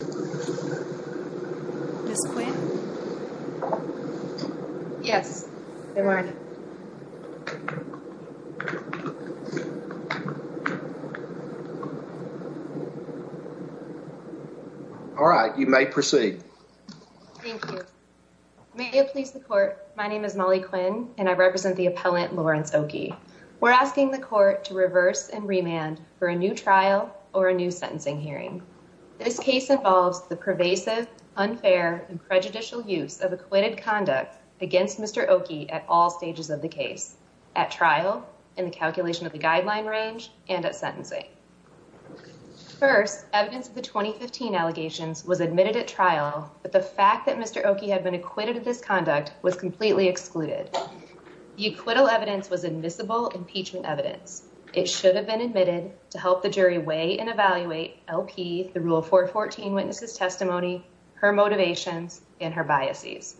All right, you may proceed. Thank you. May it please the court, my name is Molly Quinn, and I represent the appellant Lawrence Oakie. We're asking the court to reverse and remand for a new trial or a new sentencing hearing. This case involves the pervasive, unfair, and prejudicial use of acquitted conduct against Mr. Oakie at all stages of the case, at trial, in the calculation of the guideline range, and at sentencing. First, evidence of the 2015 allegations was admitted at trial, but the fact that Mr. Oakie had been acquitted of this conduct was completely excluded. The acquittal evidence was admissible impeachment evidence. It should have been admitted to help the jury weigh and evaluate LP, the Rule 414 witness's testimony, her motivations, and her biases.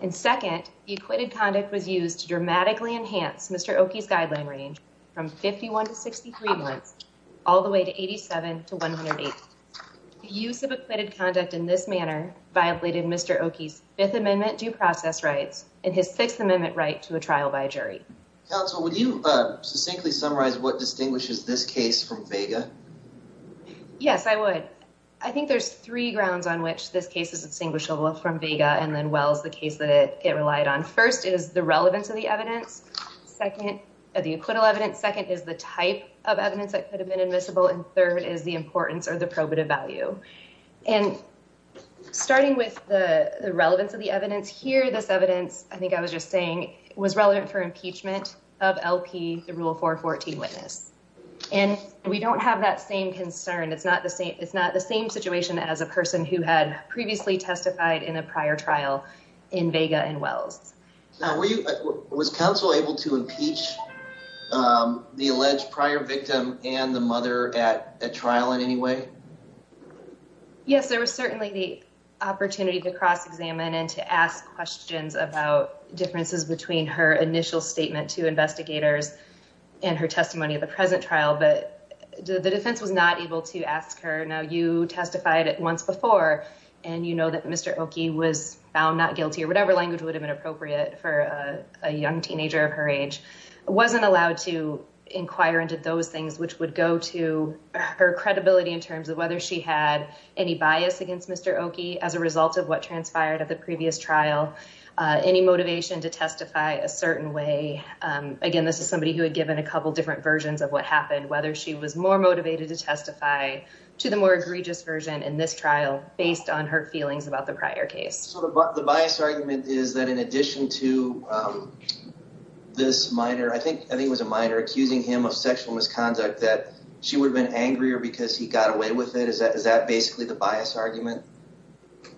And second, the acquitted conduct was used to dramatically enhance Mr. Oakie's guideline range from 51 to 63 months, all the way to 87 to 108. Use of acquitted conduct in this manner violated Mr. Oakie's Fifth Amendment due process rights and his Sixth Amendment right to a trial by jury. Counsel, would you succinctly summarize what distinguishes this case from Vega? Yes, I would. I think there's three grounds on which this case is distinguishable from Vega and then Wells, the case that it relied on. First is the relevance of the evidence. Second, the acquittal evidence. Second is the type of evidence that could have been admissible. And third is the importance or the probative value. And starting with the relevance of the evidence here, this evidence, I think I was just saying, was relevant for impeachment of LP, the Rule 414 witness. And we don't have that same concern. It's not the same situation as a person who had previously testified in a prior trial in Vega and Wells. Was counsel able to impeach the alleged prior victim and the mother at trial in any way? Yes, there was certainly the opportunity to cross-examine and to ask questions about differences between her initial statement to investigators and her testimony at the present trial. But the defense was not able to ask her, now you testified at once before and you know that Mr. Oki was found not guilty or whatever language would have been appropriate for a young teenager of her age. I wasn't allowed to inquire into those things, which would go to her credibility in terms of whether she had any bias against Mr. Oki as a result of what transpired at the previous trial, any motivation to testify a certain way. Again, this is somebody who had given a couple different versions of what happened, whether she was more motivated to testify to the more egregious version in this trial based on her feelings about the prior case. So the bias argument is that in addition to this minor, I think it was a minor, accusing him of sexual misconduct that she would have been angrier because he got away with it. Is that basically the bias argument?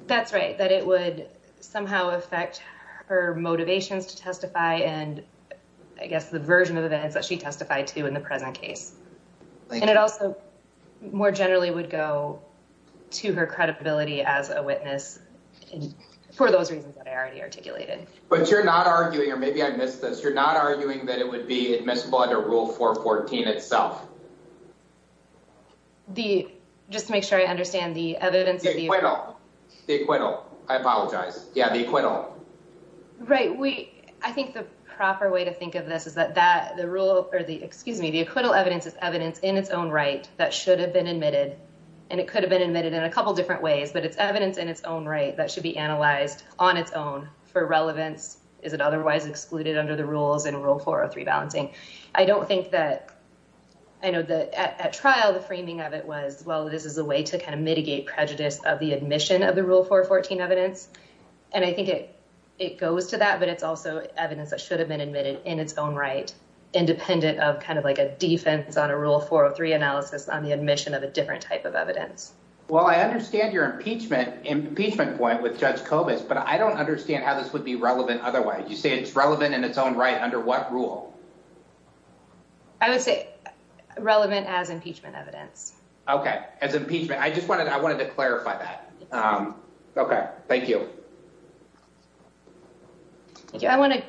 That's right, that it would somehow affect her motivations to testify. And I guess the version of events that she testified to in the present case. And it also more generally would go to her credibility as a witness for those reasons that I already articulated. But you're not arguing, or maybe I missed this. You're not arguing that it would be admissible under Rule 414 itself. The, just to make sure I understand the evidence of the acquittal, I apologize. Yeah, the acquittal. Right, we, I think the proper way to think of this is that that the rule or the excuse me, the acquittal evidence is evidence in its own right that should have been admitted. And it could have been admitted in a couple different ways, but it's evidence in its own right that should be analyzed on its own for relevance. Is it otherwise excluded under the rules in Rule 403 balancing? I don't think that, I know that at trial, the framing of it was, well, this is a way to kind of mitigate prejudice of the admission of the Rule 414 evidence. And I think it goes to that, but it's also evidence that should have been admitted in its own right, independent of kind of like a defense on a Rule 403 analysis on the admission of a different type of evidence. Well, I understand your impeachment point with Judge Kobus, but I don't understand how this would be relevant otherwise. You say it's relevant in its own right under what rule? I would say relevant as impeachment evidence. Okay. As impeachment. I just wanted to clarify that. Okay. Thank you. I want to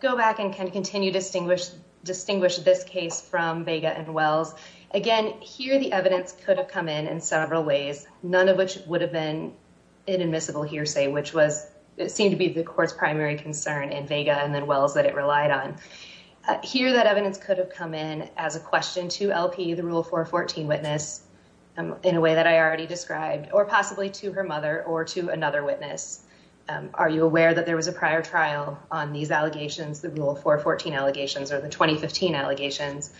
go back and kind of continue to distinguish this case from Vega and Wells. Again, here the evidence could have come in in several ways, none of which would have been an admissible hearsay, which was, it seemed to be the court's primary concern in Vega and then Wells that it relied on. Here, that evidence could have come in as a question to LP, the Rule 414 witness, in a way that I already described, or possibly to her mother or to another witness. Are you aware that there was a prior trial on these allegations, the Rule 414 allegations or the 2015 allegations,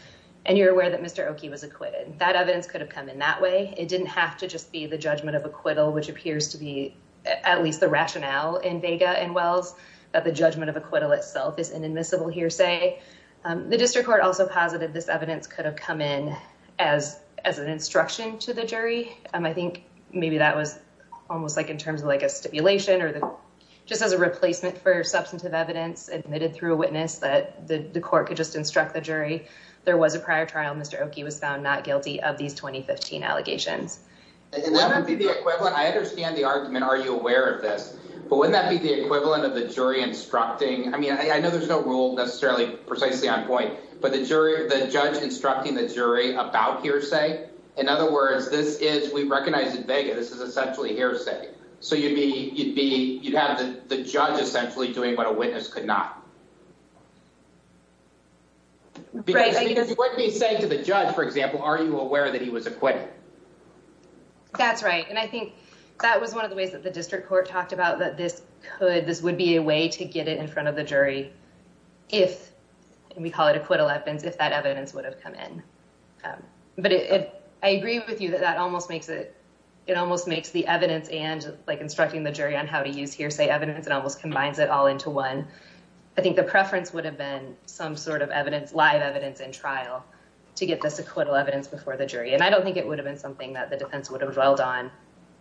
and you're aware that Mr. Oki was acquitted? That evidence could have come in that way. It didn't have to just be the judgment of acquittal, which appears to be at least the The district court also posited this evidence could have come in as an instruction to the jury. I think maybe that was almost like in terms of like a stipulation or just as a replacement for substantive evidence admitted through a witness that the court could just instruct the jury. There was a prior trial. Mr. Oki was found not guilty of these 2015 allegations. I understand the argument. Are you aware of this? But wouldn't that be the equivalent of the jury instructing? I mean, I know there's no rule necessarily precisely on point, but the jury, the judge instructing the jury about hearsay. In other words, this is, we recognize in Vega, this is essentially hearsay. So you'd be, you'd be, you'd have the judge essentially doing what a witness could not. Because what he's saying to the judge, for example, are you aware that he was acquitted? That's right. And I think that was one of the ways that the district court talked about that this could, this would be a way to get it in front of the jury. If we call it acquittal evidence, if that evidence would have come in. But if I agree with you that that almost makes it, it almost makes the evidence and like instructing the jury on how to use hearsay evidence, it almost combines it all into one. I think the preference would have been some sort of evidence, live evidence in trial to get this acquittal evidence before the jury. And I don't think it would have been something that the defense would have dwelled on,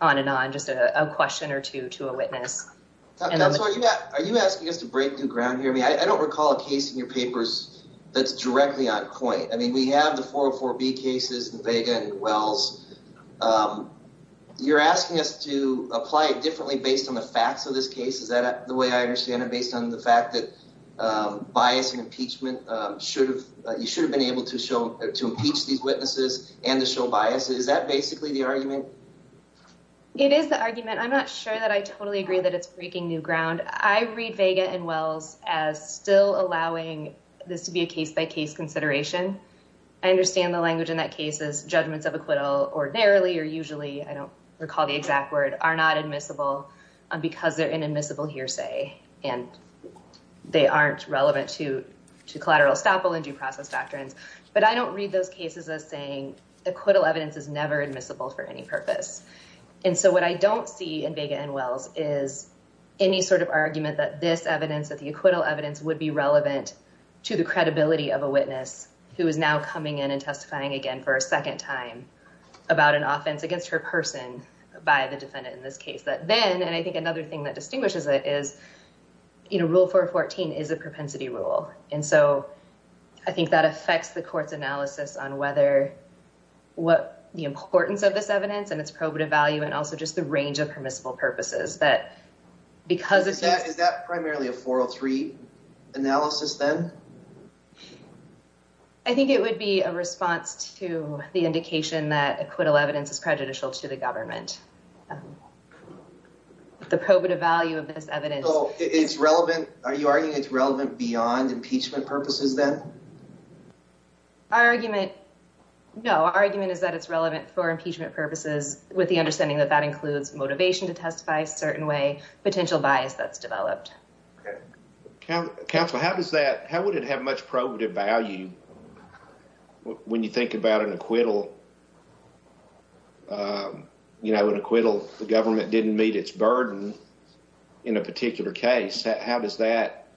on and on just a question or two to a witness. Are you asking us to break new ground here? I mean, I don't recall a case in your papers that's directly on point. I mean, we have the 404B cases in Vega and Wells. You're asking us to apply it differently based on the facts of this case. Is that the way I understand it? Based on the fact that bias and impeachment should have, you should have been able to show, to impeach these witnesses and to show bias. Is that basically the argument? It is the argument. I'm not sure that I totally agree that it's breaking new ground. I read Vega and Wells as still allowing this to be a case by case consideration. I understand the language in that case is judgments of acquittal ordinarily or usually, I don't recall the exact word, are not admissible because they're an admissible hearsay and they aren't relevant to collateral estoppel and due process doctrines. But I don't read those cases as saying acquittal evidence is never admissible for any purpose. And so what I don't see in Vega and Wells is any sort of argument that this evidence, that the acquittal evidence would be relevant to the credibility of a witness who is now coming in and testifying again for a second time about an offense against her person by the defendant in this case. That then, and I think another thing that distinguishes it is rule 414 is a propensity rule. And so I think that affects the court's analysis on whether what the importance of this evidence and its probative value and also just the range of permissible purposes that because of that. Is that primarily a 403 analysis then? I think it would be a response to the indication that acquittal evidence is prejudicial to the government. The probative value of this evidence. So it's relevant. Are you arguing it's relevant beyond impeachment purposes then? Our argument, no, our argument is that it's relevant for impeachment purposes with the understanding that that includes motivation to testify a certain way, potential bias that's developed. Counsel, how does that, how would it have much probative value when you think about an acquittal? You know, an acquittal, the government didn't meet its burden in a particular case. How does that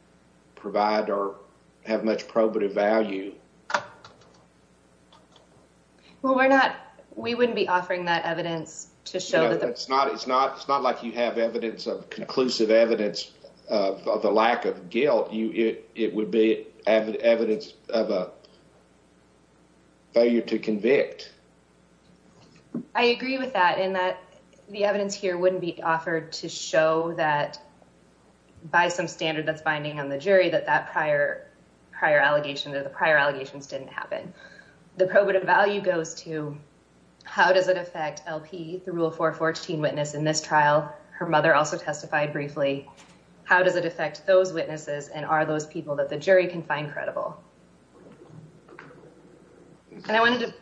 provide or have much probative value? Well, we're not, we wouldn't be offering that evidence to show that it's not, it's not, it's not like you have evidence of conclusive evidence of the lack of guilt. You, it would be evidence of a failure to convict. I agree with that in that the evidence here wouldn't be offered to show that by some standard that's binding on the jury that that prior, prior allegation, that the prior allegations didn't happen. The probative value goes to how does it affect LP, the Rule 414 witness in this trial? Her mother also testified briefly. How does it affect those witnesses? And are those people that the jury can find credible? And I wanted to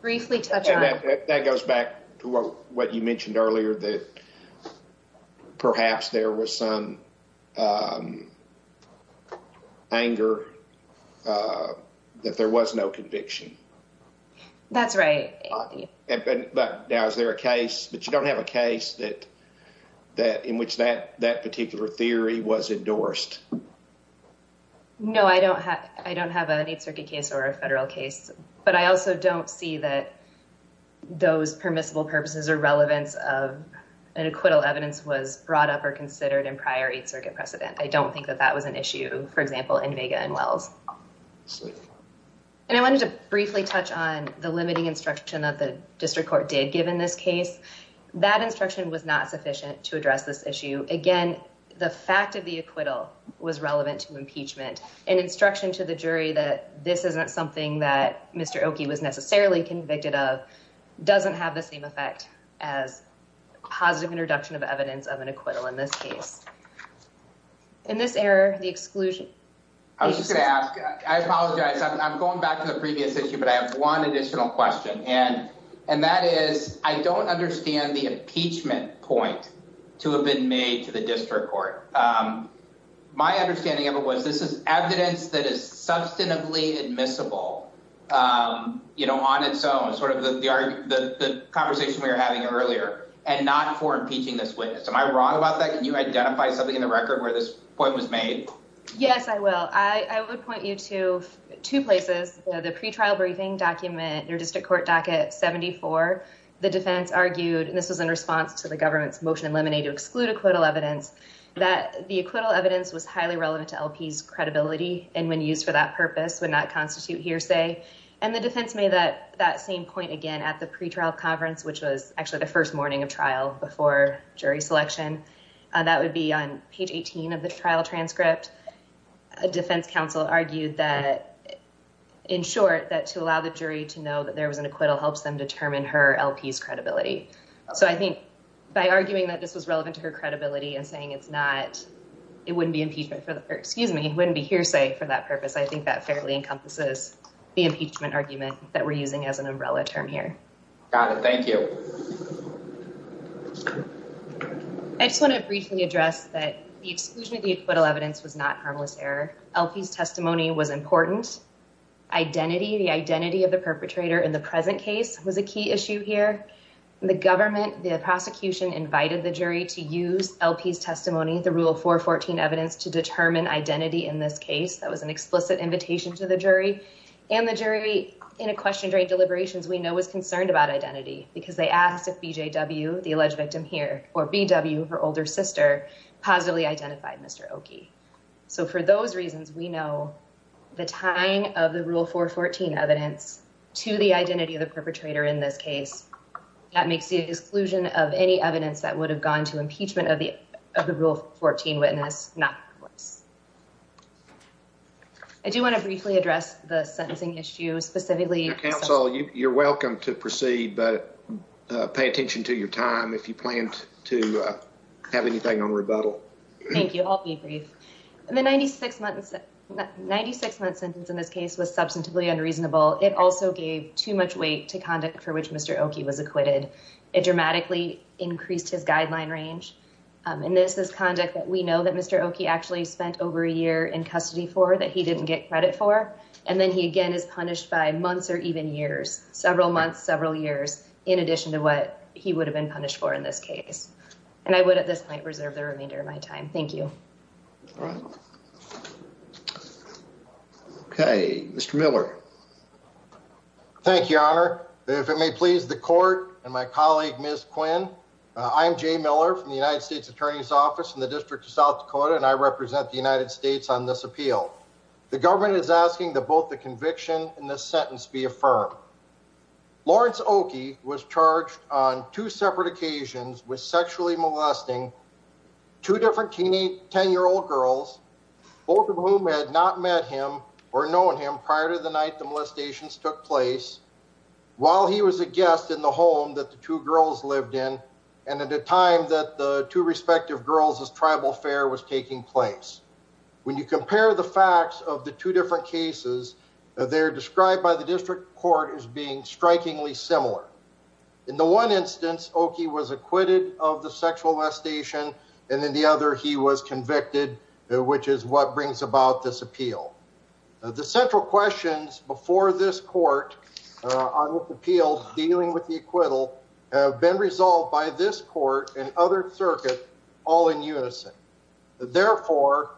briefly touch on that. That goes back to what you mentioned earlier that perhaps there was some anger that there was no conviction. That's right. But now, is there a case, but you don't have a case that, that in which that, that particular theory was endorsed? No, I don't have, I don't have an Eighth Circuit case or a federal case, but I also don't see that those permissible purposes or relevance of an acquittal evidence was brought up or considered in prior Eighth Circuit precedent. I don't think that that was an issue, for example, in Vega and Wells. And I wanted to briefly touch on the limiting instruction that the district court did given this case. That instruction was not sufficient to address this issue. Again, the fact of the acquittal was relevant to impeachment and instruction to the jury that this isn't something that Mr. Oki was necessarily convicted of, doesn't have the same effect as positive introduction of evidence of an acquittal in this case. In this error, the exclusion. I was just going to ask, I apologize, I'm going back to the previous issue, but I have one additional question. And, and that is, I don't understand the impeachment point to have been made to the district court. Um, my understanding of it was this is evidence that is substantively admissible, um, you know, on its own, sort of the, the, the, the conversation we were having earlier and not for impeaching this witness. Am I wrong about that? Can you identify something in the record where this point was made? Yes, I will. I would point you to two places. The pretrial briefing document, your district court docket 74, the defense argued, and this was in response to the government's motion eliminated to exclude acquittal evidence that the acquittal evidence was highly relevant to LP's credibility. And when used for that purpose would not constitute hearsay. And the defense made that, that same point again at the pretrial conference, which was actually the first morning of trial before jury selection. That would be on page 18 of the trial transcript. A defense counsel argued that in short, that to allow the jury to know that there was an acquittal helps them determine her LP's credibility. So I think by arguing that this was relevant to her credibility and saying, it's not, it wouldn't be impeachment for the, or excuse me, it wouldn't be hearsay for that purpose. I think that fairly encompasses the impeachment argument that we're using as an umbrella term here. Got it. Thank you. I just want to briefly address that the exclusion of the acquittal evidence was not harmless error. LP's testimony was important. Identity, the identity of the perpetrator in the present case was a key issue here. The government, the prosecution invited the jury to use LP's testimony, the rule 414 evidence to determine identity in this case. That was an explicit invitation to the jury and the jury in a question during deliberations, we know was concerned about identity because they asked if BJW, the alleged victim here, or BW, her older sister positively identified Mr. Oki. So for those reasons, we know the tying of the rule 414 evidence to the identity of the that makes the exclusion of any evidence that would have gone to impeachment of the, of the rule 14 witness, not worse. I do want to briefly address the sentencing issue specifically. Your counsel, you're welcome to proceed, but pay attention to your time. If you plan to have anything on rebuttal. Thank you. I'll be brief. And the 96 months, 96 months sentence in this case was substantively unreasonable. It also gave too much weight to conduct for which Mr. Oki was acquitted. It dramatically increased his guideline range. And this is conduct that we know that Mr. Oki actually spent over a year in custody for that he didn't get credit for. And then he again is punished by months or even years, several months, several years, in addition to what he would have been punished for in this case. And I would at this point reserve the remainder of my time. Thank you. All right. Okay. Mr. Miller. Thank you, your honor. If it may please the court and my colleague, Ms. Quinn, I'm Jay Miller from the United States attorney's office in the district of South Dakota. And I represent the United States on this appeal. The government is asking the, both the conviction and the sentence be affirmed. Lawrence Oki was charged on two separate occasions with sexually molesting two different teenage 10-year-old girls, both of whom had not met him or known him prior to the night the molestations took place, while he was a guest in the home that the two girls lived in. And at a time that the two respective girls' tribal fair was taking place. When you compare the facts of the two different cases, In the one instance, Oki was acquitted of the sexual molestation. And then the other, he was convicted, which is what brings about this appeal. The central questions before this court on the appeals dealing with the acquittal have been resolved by this court and other circuit all in unison. Therefore,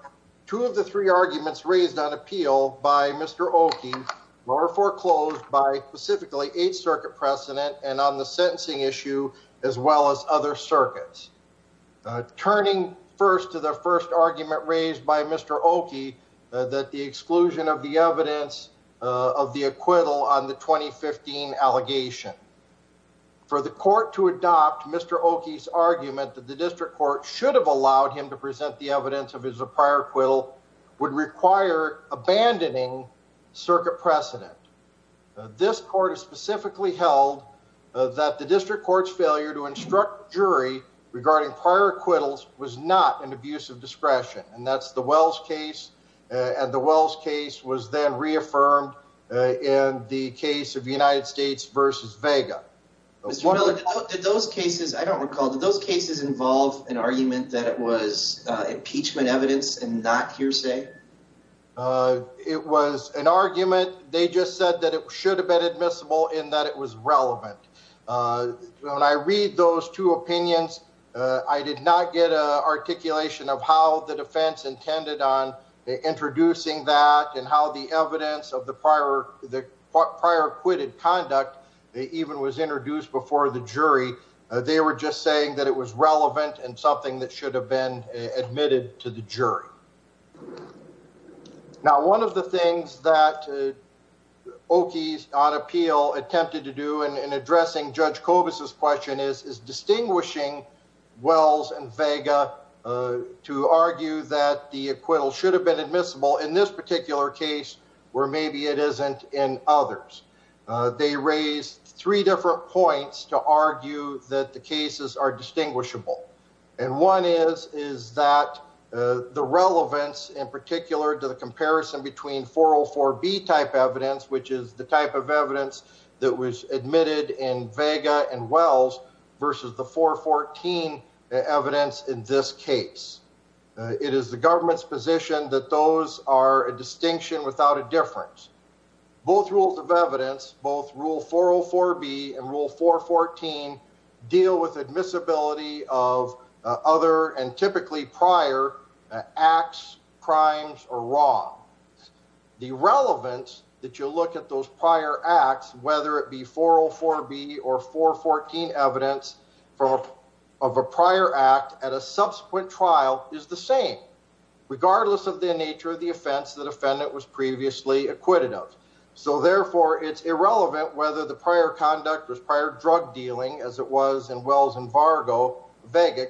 two of the three arguments raised on appeal by Mr. Oki were foreclosed by specifically Eighth Circuit precedent and on the sentencing issue, as well as other circuits. Turning first to the first argument raised by Mr. Oki, that the exclusion of the evidence of the acquittal on the 2015 allegation. For the court to adopt Mr. Oki's argument that the district court should have allowed him to present the evidence of his prior acquittal would require abandoning circuit precedent. This court has specifically held that the district court's failure to instruct jury regarding prior acquittals was not an abuse of discretion. And that's the Wells case. And the Wells case was then reaffirmed in the case of the United States versus Vega. Mr. Miller, did those cases, I don't recall, did those cases involve an argument that it was impeachment evidence and not hearsay? Uh, it was an argument. They just said that it should have been admissible in that it was relevant. When I read those two opinions, I did not get a articulation of how the defense intended on introducing that and how the evidence of the prior, the prior acquitted conduct, they even was introduced before the jury. They were just saying that it was relevant and something that should have been admitted to the Now, one of the things that Oki's on appeal attempted to do in addressing Judge Cobus's question is, is distinguishing Wells and Vega to argue that the acquittal should have been admissible in this particular case, where maybe it isn't in others. They raised three different points to argue that the cases are distinguishable. And one is, is that the relevance in particular to the comparison between 404B type evidence, which is the type of evidence that was admitted in Vega and Wells versus the 414 evidence in this case, it is the government's position that those are a distinction without a difference. Both rules of evidence, both rule 404B and rule 414 deal with admissibility of other and typically prior acts, crimes or wrong. The relevance that you look at those prior acts, whether it be 404B or 414 evidence of a prior act at a subsequent trial is the same, regardless of the nature of the offense, the defendant was previously acquitted of. So therefore it's irrelevant whether the prior conduct was prior drug dealing as it was in Wells and Vega,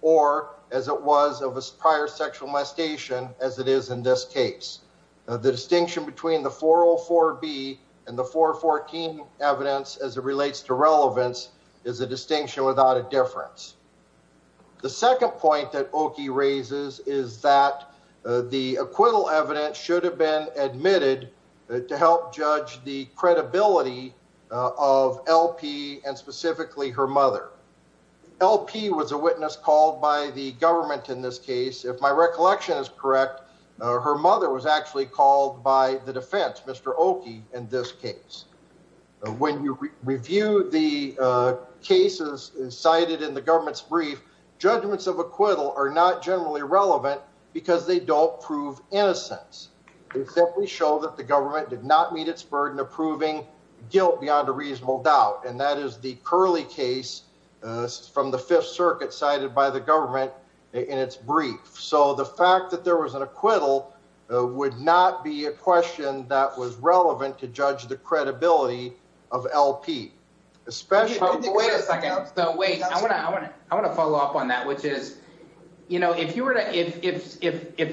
or as it was of a prior sexual mastation as it is in this case. The distinction between the 404B and the 414 evidence as it relates to relevance is a distinction without a difference. The second point that Oki raises is the acquittal evidence should have been admitted to help judge the credibility of LP and specifically her mother. LP was a witness called by the government in this case. If my recollection is correct, her mother was actually called by the defense, Mr. Oki, in this case. When you review the cases cited in the government's brief, judgments of acquittal are not generally relevant because they don't prove innocence. They simply show that the government did not meet its burden of proving guilt beyond a reasonable doubt. And that is the curly case from the Fifth Circuit cited by the government in its brief. So the fact that there was an acquittal would not be a question that was relevant to judge the credibility of LP. Wait a second. So wait, I want to follow up on that, which is, you know, if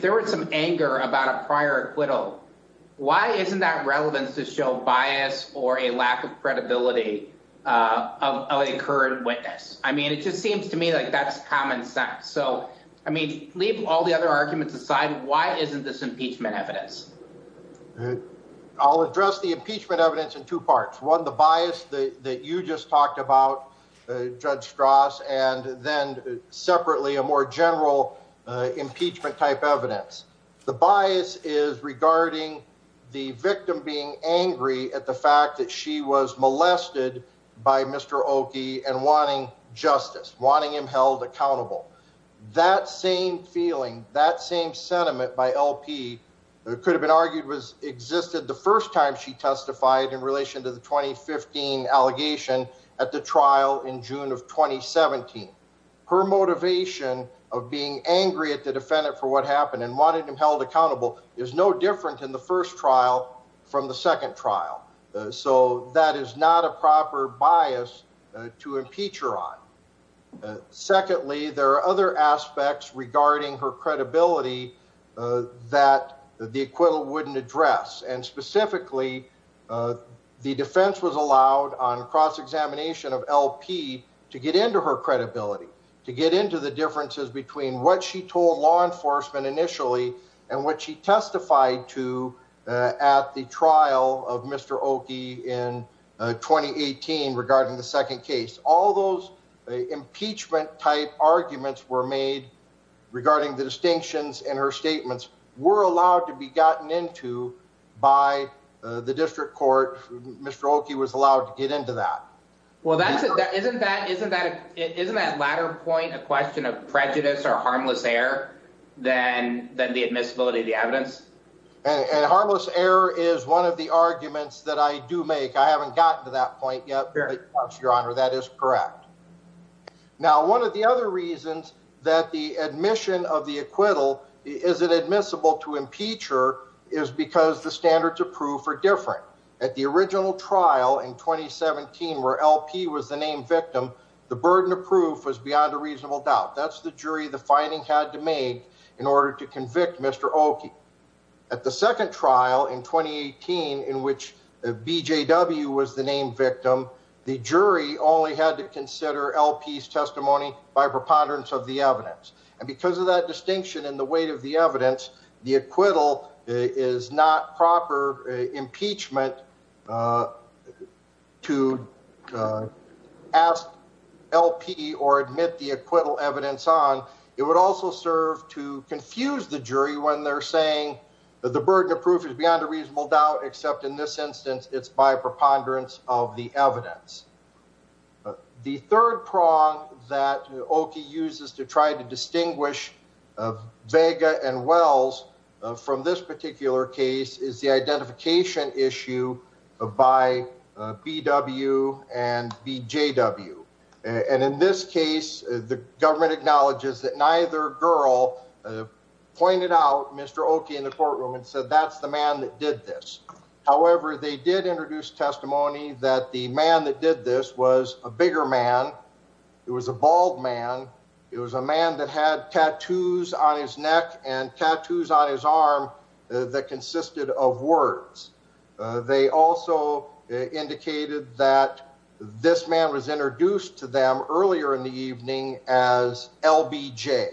there was some anger about a prior acquittal, why isn't that relevant to show bias or a lack of credibility of a current witness? I mean, it just seems to me like that's common sense. So, I mean, leave all the other arguments aside. Why isn't this impeachment evidence? I'll address the impeachment evidence in two parts. One, the bias that you just talked about, Judge Strauss, and then separately, a more general impeachment type evidence. The bias is regarding the victim being angry at the fact that she was molested by Mr. Oki and wanting justice, wanting him held accountable. That same feeling, that same sentiment by LP could have been argued existed the first time she testified in relation to the 2015 allegation at the trial in June of 2017. Her motivation of being angry at the defendant for what happened and wanting him held accountable is no different in the first trial from the second trial. So that is not a proper bias to impeach her on. Secondly, there are other aspects regarding her credibility that the acquittal wouldn't address, and specifically the defense was allowed on cross-examination of LP to get into her credibility, to get into the differences between what she told law enforcement initially and what she testified to at the trial of Mr. Oki in 2018 regarding the second case. All those impeachment type arguments were made for Mr. Oki to get into that. Isn't that latter point a question of prejudice or harmless error than the admissibility of the evidence? Harmless error is one of the arguments that I do make. I haven't gotten to that point yet, but your honor, that is correct. Now, one of the other reasons that the admission of the acquittal isn't admissible to impeach her is because the original trial in 2017 where LP was the named victim, the burden of proof was beyond a reasonable doubt. That's the jury the finding had to make in order to convict Mr. Oki. At the second trial in 2018 in which BJW was the named victim, the jury only had to consider LP's testimony by preponderance of the evidence. And because of that distinction in the weight of the evidence, the acquittal is not proper impeachment to ask LP or admit the acquittal evidence on. It would also serve to confuse the jury when they're saying that the burden of proof is beyond a reasonable doubt except in this instance it's by preponderance of the evidence. But the third prong that Oki uses to try to distinguish Vega and Wells from this particular case is the identification issue by BW and BJW. And in this case the government acknowledges that neither girl pointed out Mr. Oki in the courtroom and said that's the man that did this. However, they did introduce testimony that the man that did this was a bigger man. It was a bald man. It was a man that had tattoos on his neck and tattoos on his arm that consisted of words. They also indicated that this man was introduced to them earlier in the evening as LBJ.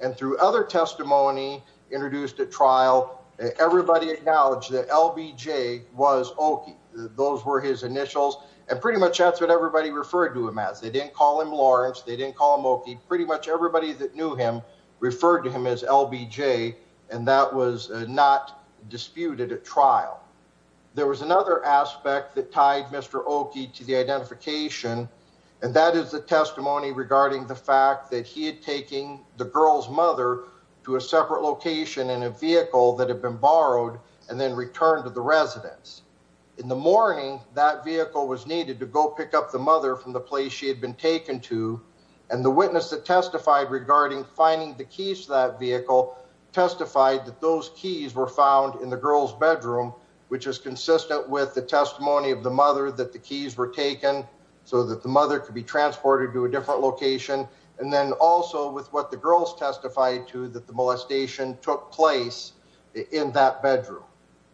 And through other testimony introduced at trial, everybody acknowledged that LBJ was Oki. Those were his initials. And pretty much that's what everybody referred to him as. They didn't call him Lawrence. They didn't call him Oki. Pretty much everybody that knew him referred to him as LBJ and that was not disputed at trial. There was another aspect that tied Mr. Oki to the identification and that is the testimony regarding the fact that he had taken the girl's mother to a separate location in a vehicle that had been borrowed and then returned to the residence. In the morning, that vehicle was needed to go pick up the mother from the place she had been taken to. And the witness that testified regarding finding the keys to that vehicle testified that those keys were found in the girl's bedroom, which is consistent with the testimony of the mother that the keys were taken so that the mother could be transported to a different location. And then also with what the girls testified to that the molestation took place in that bedroom.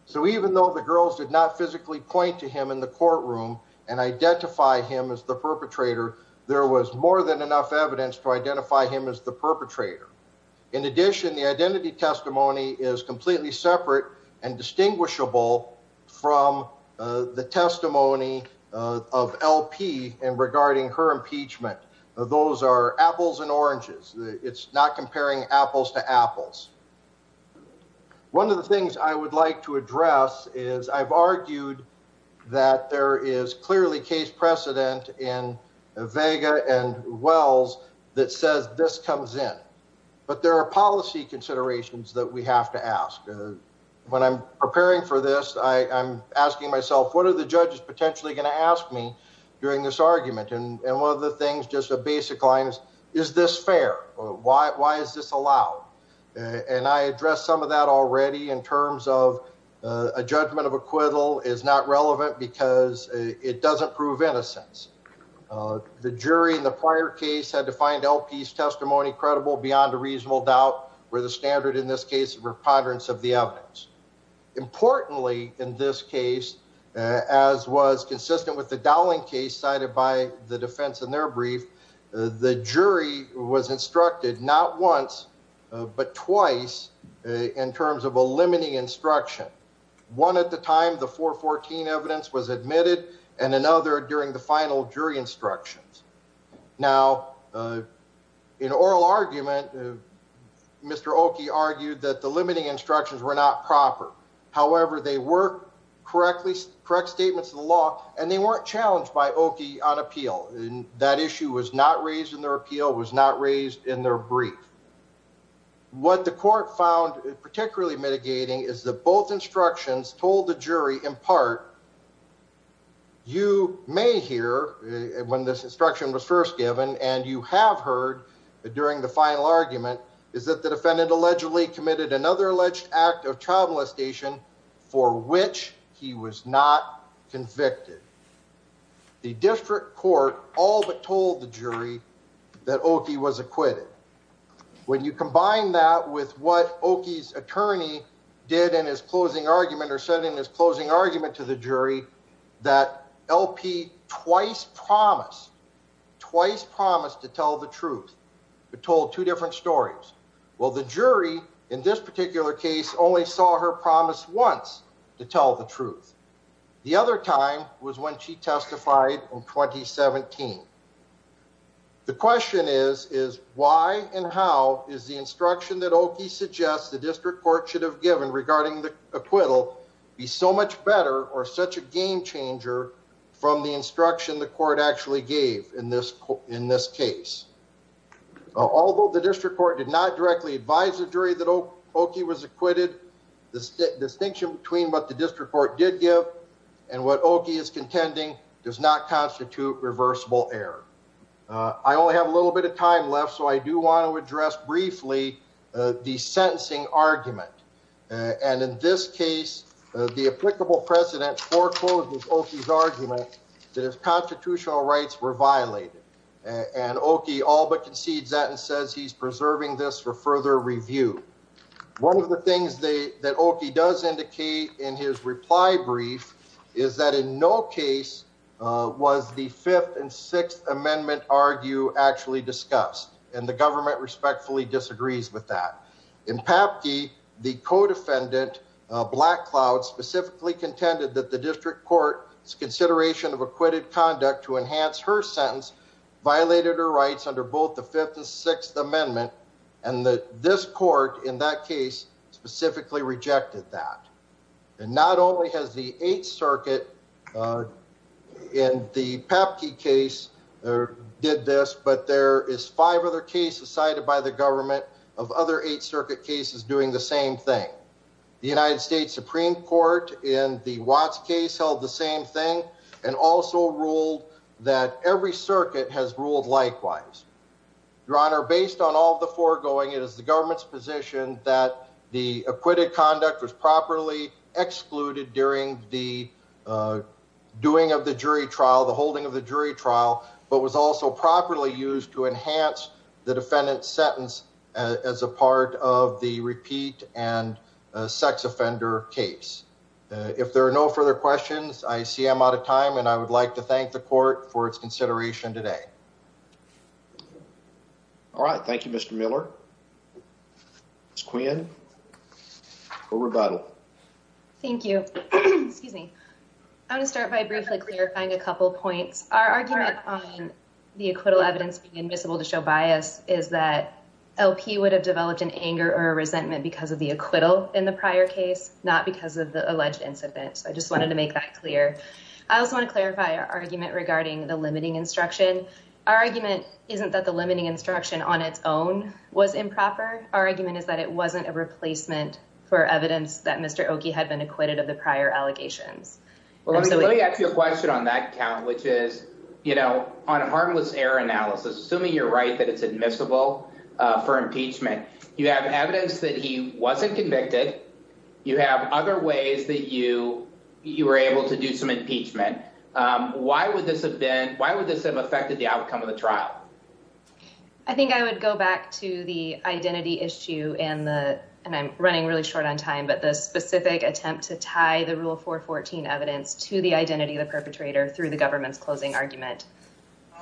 So even though the girls did not physically point to him in the courtroom and identify him as the perpetrator, there was more than enough evidence to identify him as the perpetrator. In addition, the identity testimony is completely separate and distinguishable from the testimony of LP and regarding her impeachment. Those are apples and oranges. It's not comparing apples to apples. One of the things I would like to address is I've argued that there is clearly case precedent in Vega and Wells that says this comes in. But there are policy considerations that we have to ask. When I'm preparing for this, I'm asking myself, what are the judges potentially going to ask me during this argument? And one of the things, just a basic line is, is this fair? Why is this allowed? And I addressed some of that already in terms of a judgment of acquittal is not relevant because it doesn't prove innocence. The jury in the prior case had to find LP's testimony credible beyond a reasonable doubt where the standard in this case of preponderance of the evidence. Importantly, in this case, as was consistent with the Dowling case cited by the defense in their brief, the jury was instructed not once but twice in terms of evidence. One during the final jury instructions. Now, in oral argument, Mr. Oki argued that the limiting instructions were not proper. However, they were correct statements of the law and they weren't challenged by Oki on appeal. That issue was not raised in their appeal, was not raised in their brief. What the court found particularly mitigating is that both instructions told the jury in part, you may hear when this instruction was first given and you have heard during the final argument is that the defendant allegedly committed another alleged act of child molestation for which he was not convicted. The district court all but told the argument or said in his closing argument to the jury that LP twice promised, twice promised to tell the truth, but told two different stories. Well, the jury in this particular case only saw her promise once to tell the truth. The other time was when she testified in 2017. The question is, why and how is the instruction that Oki suggests the district court should have given regarding the acquittal be so much better or such a game changer from the instruction the court actually gave in this case? Although the district court did not directly advise the jury that Oki was acquitted, the distinction between what the district court did give and what Oki is contending does not I do want to address briefly the sentencing argument. And in this case, the applicable precedent forecloses Oki's argument that his constitutional rights were violated. And Oki all but concedes that and says he's preserving this for further review. One of the things that Oki does indicate in his reply brief is that in no case was the 5th and 6th argue actually discussed. And the government respectfully disagrees with that. In Papke, the co-defendant, Black Cloud, specifically contended that the district court's consideration of acquitted conduct to enhance her sentence violated her rights under both the 5th and 6th amendment. And that this court in that case specifically rejected that. And not only has the 8th Circuit in the Papke case did this, but there is five other cases cited by the government of other 8th Circuit cases doing the same thing. The United States Supreme Court in the Watts case held the same thing and also ruled that every circuit has ruled likewise. Your Honor, based on all the foregoing, it is the government's position that the acquitted conduct was properly excluded during the doing of the jury trial, the holding of the jury trial, but was also properly used to enhance the defendant's sentence as a part of the repeat and sex offender case. If there are no further questions, I see I'm out of time and I would like to thank the court for its consideration today. All right, thank you, Mr. Miller. Ms. Quinn for rebuttal. Thank you. Excuse me. I want to start by briefly clarifying a couple points. Our argument on the acquittal evidence being admissible to show bias is that LP would have developed an anger or a resentment because of the acquittal in the prior case, not because of the alleged incident. So I just wanted to make that clear. I also want to clarify our argument regarding the limiting instruction. Our argument isn't that the limiting instruction on its own was improper. Our argument is that it wasn't a replacement for evidence that Mr. Oki had been acquitted of the prior allegations. Well, let me ask you a question on that count, which is, you know, on a harmless error analysis, assuming you're right that it's admissible for impeachment, you have evidence that he wasn't to do some impeachment. Why would this have been, why would this have affected the outcome of the trial? I think I would go back to the identity issue and the, and I'm running really short on time, but the specific attempt to tie the rule 414 evidence to the identity of the perpetrator through the government's closing argument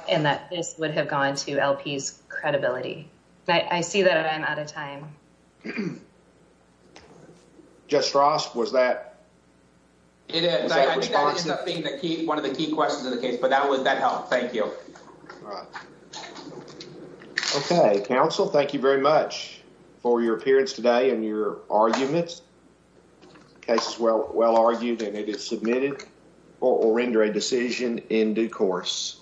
and that this would have gone to LP's credibility. I see that I'm out of time. Judge Frost, was that? It is. I think that was one of the key questions of the case, but that helped. Thank you. Okay. Counsel, thank you very much for your appearance today and your arguments. The case is well argued and it is submitted or will render a decision in due course.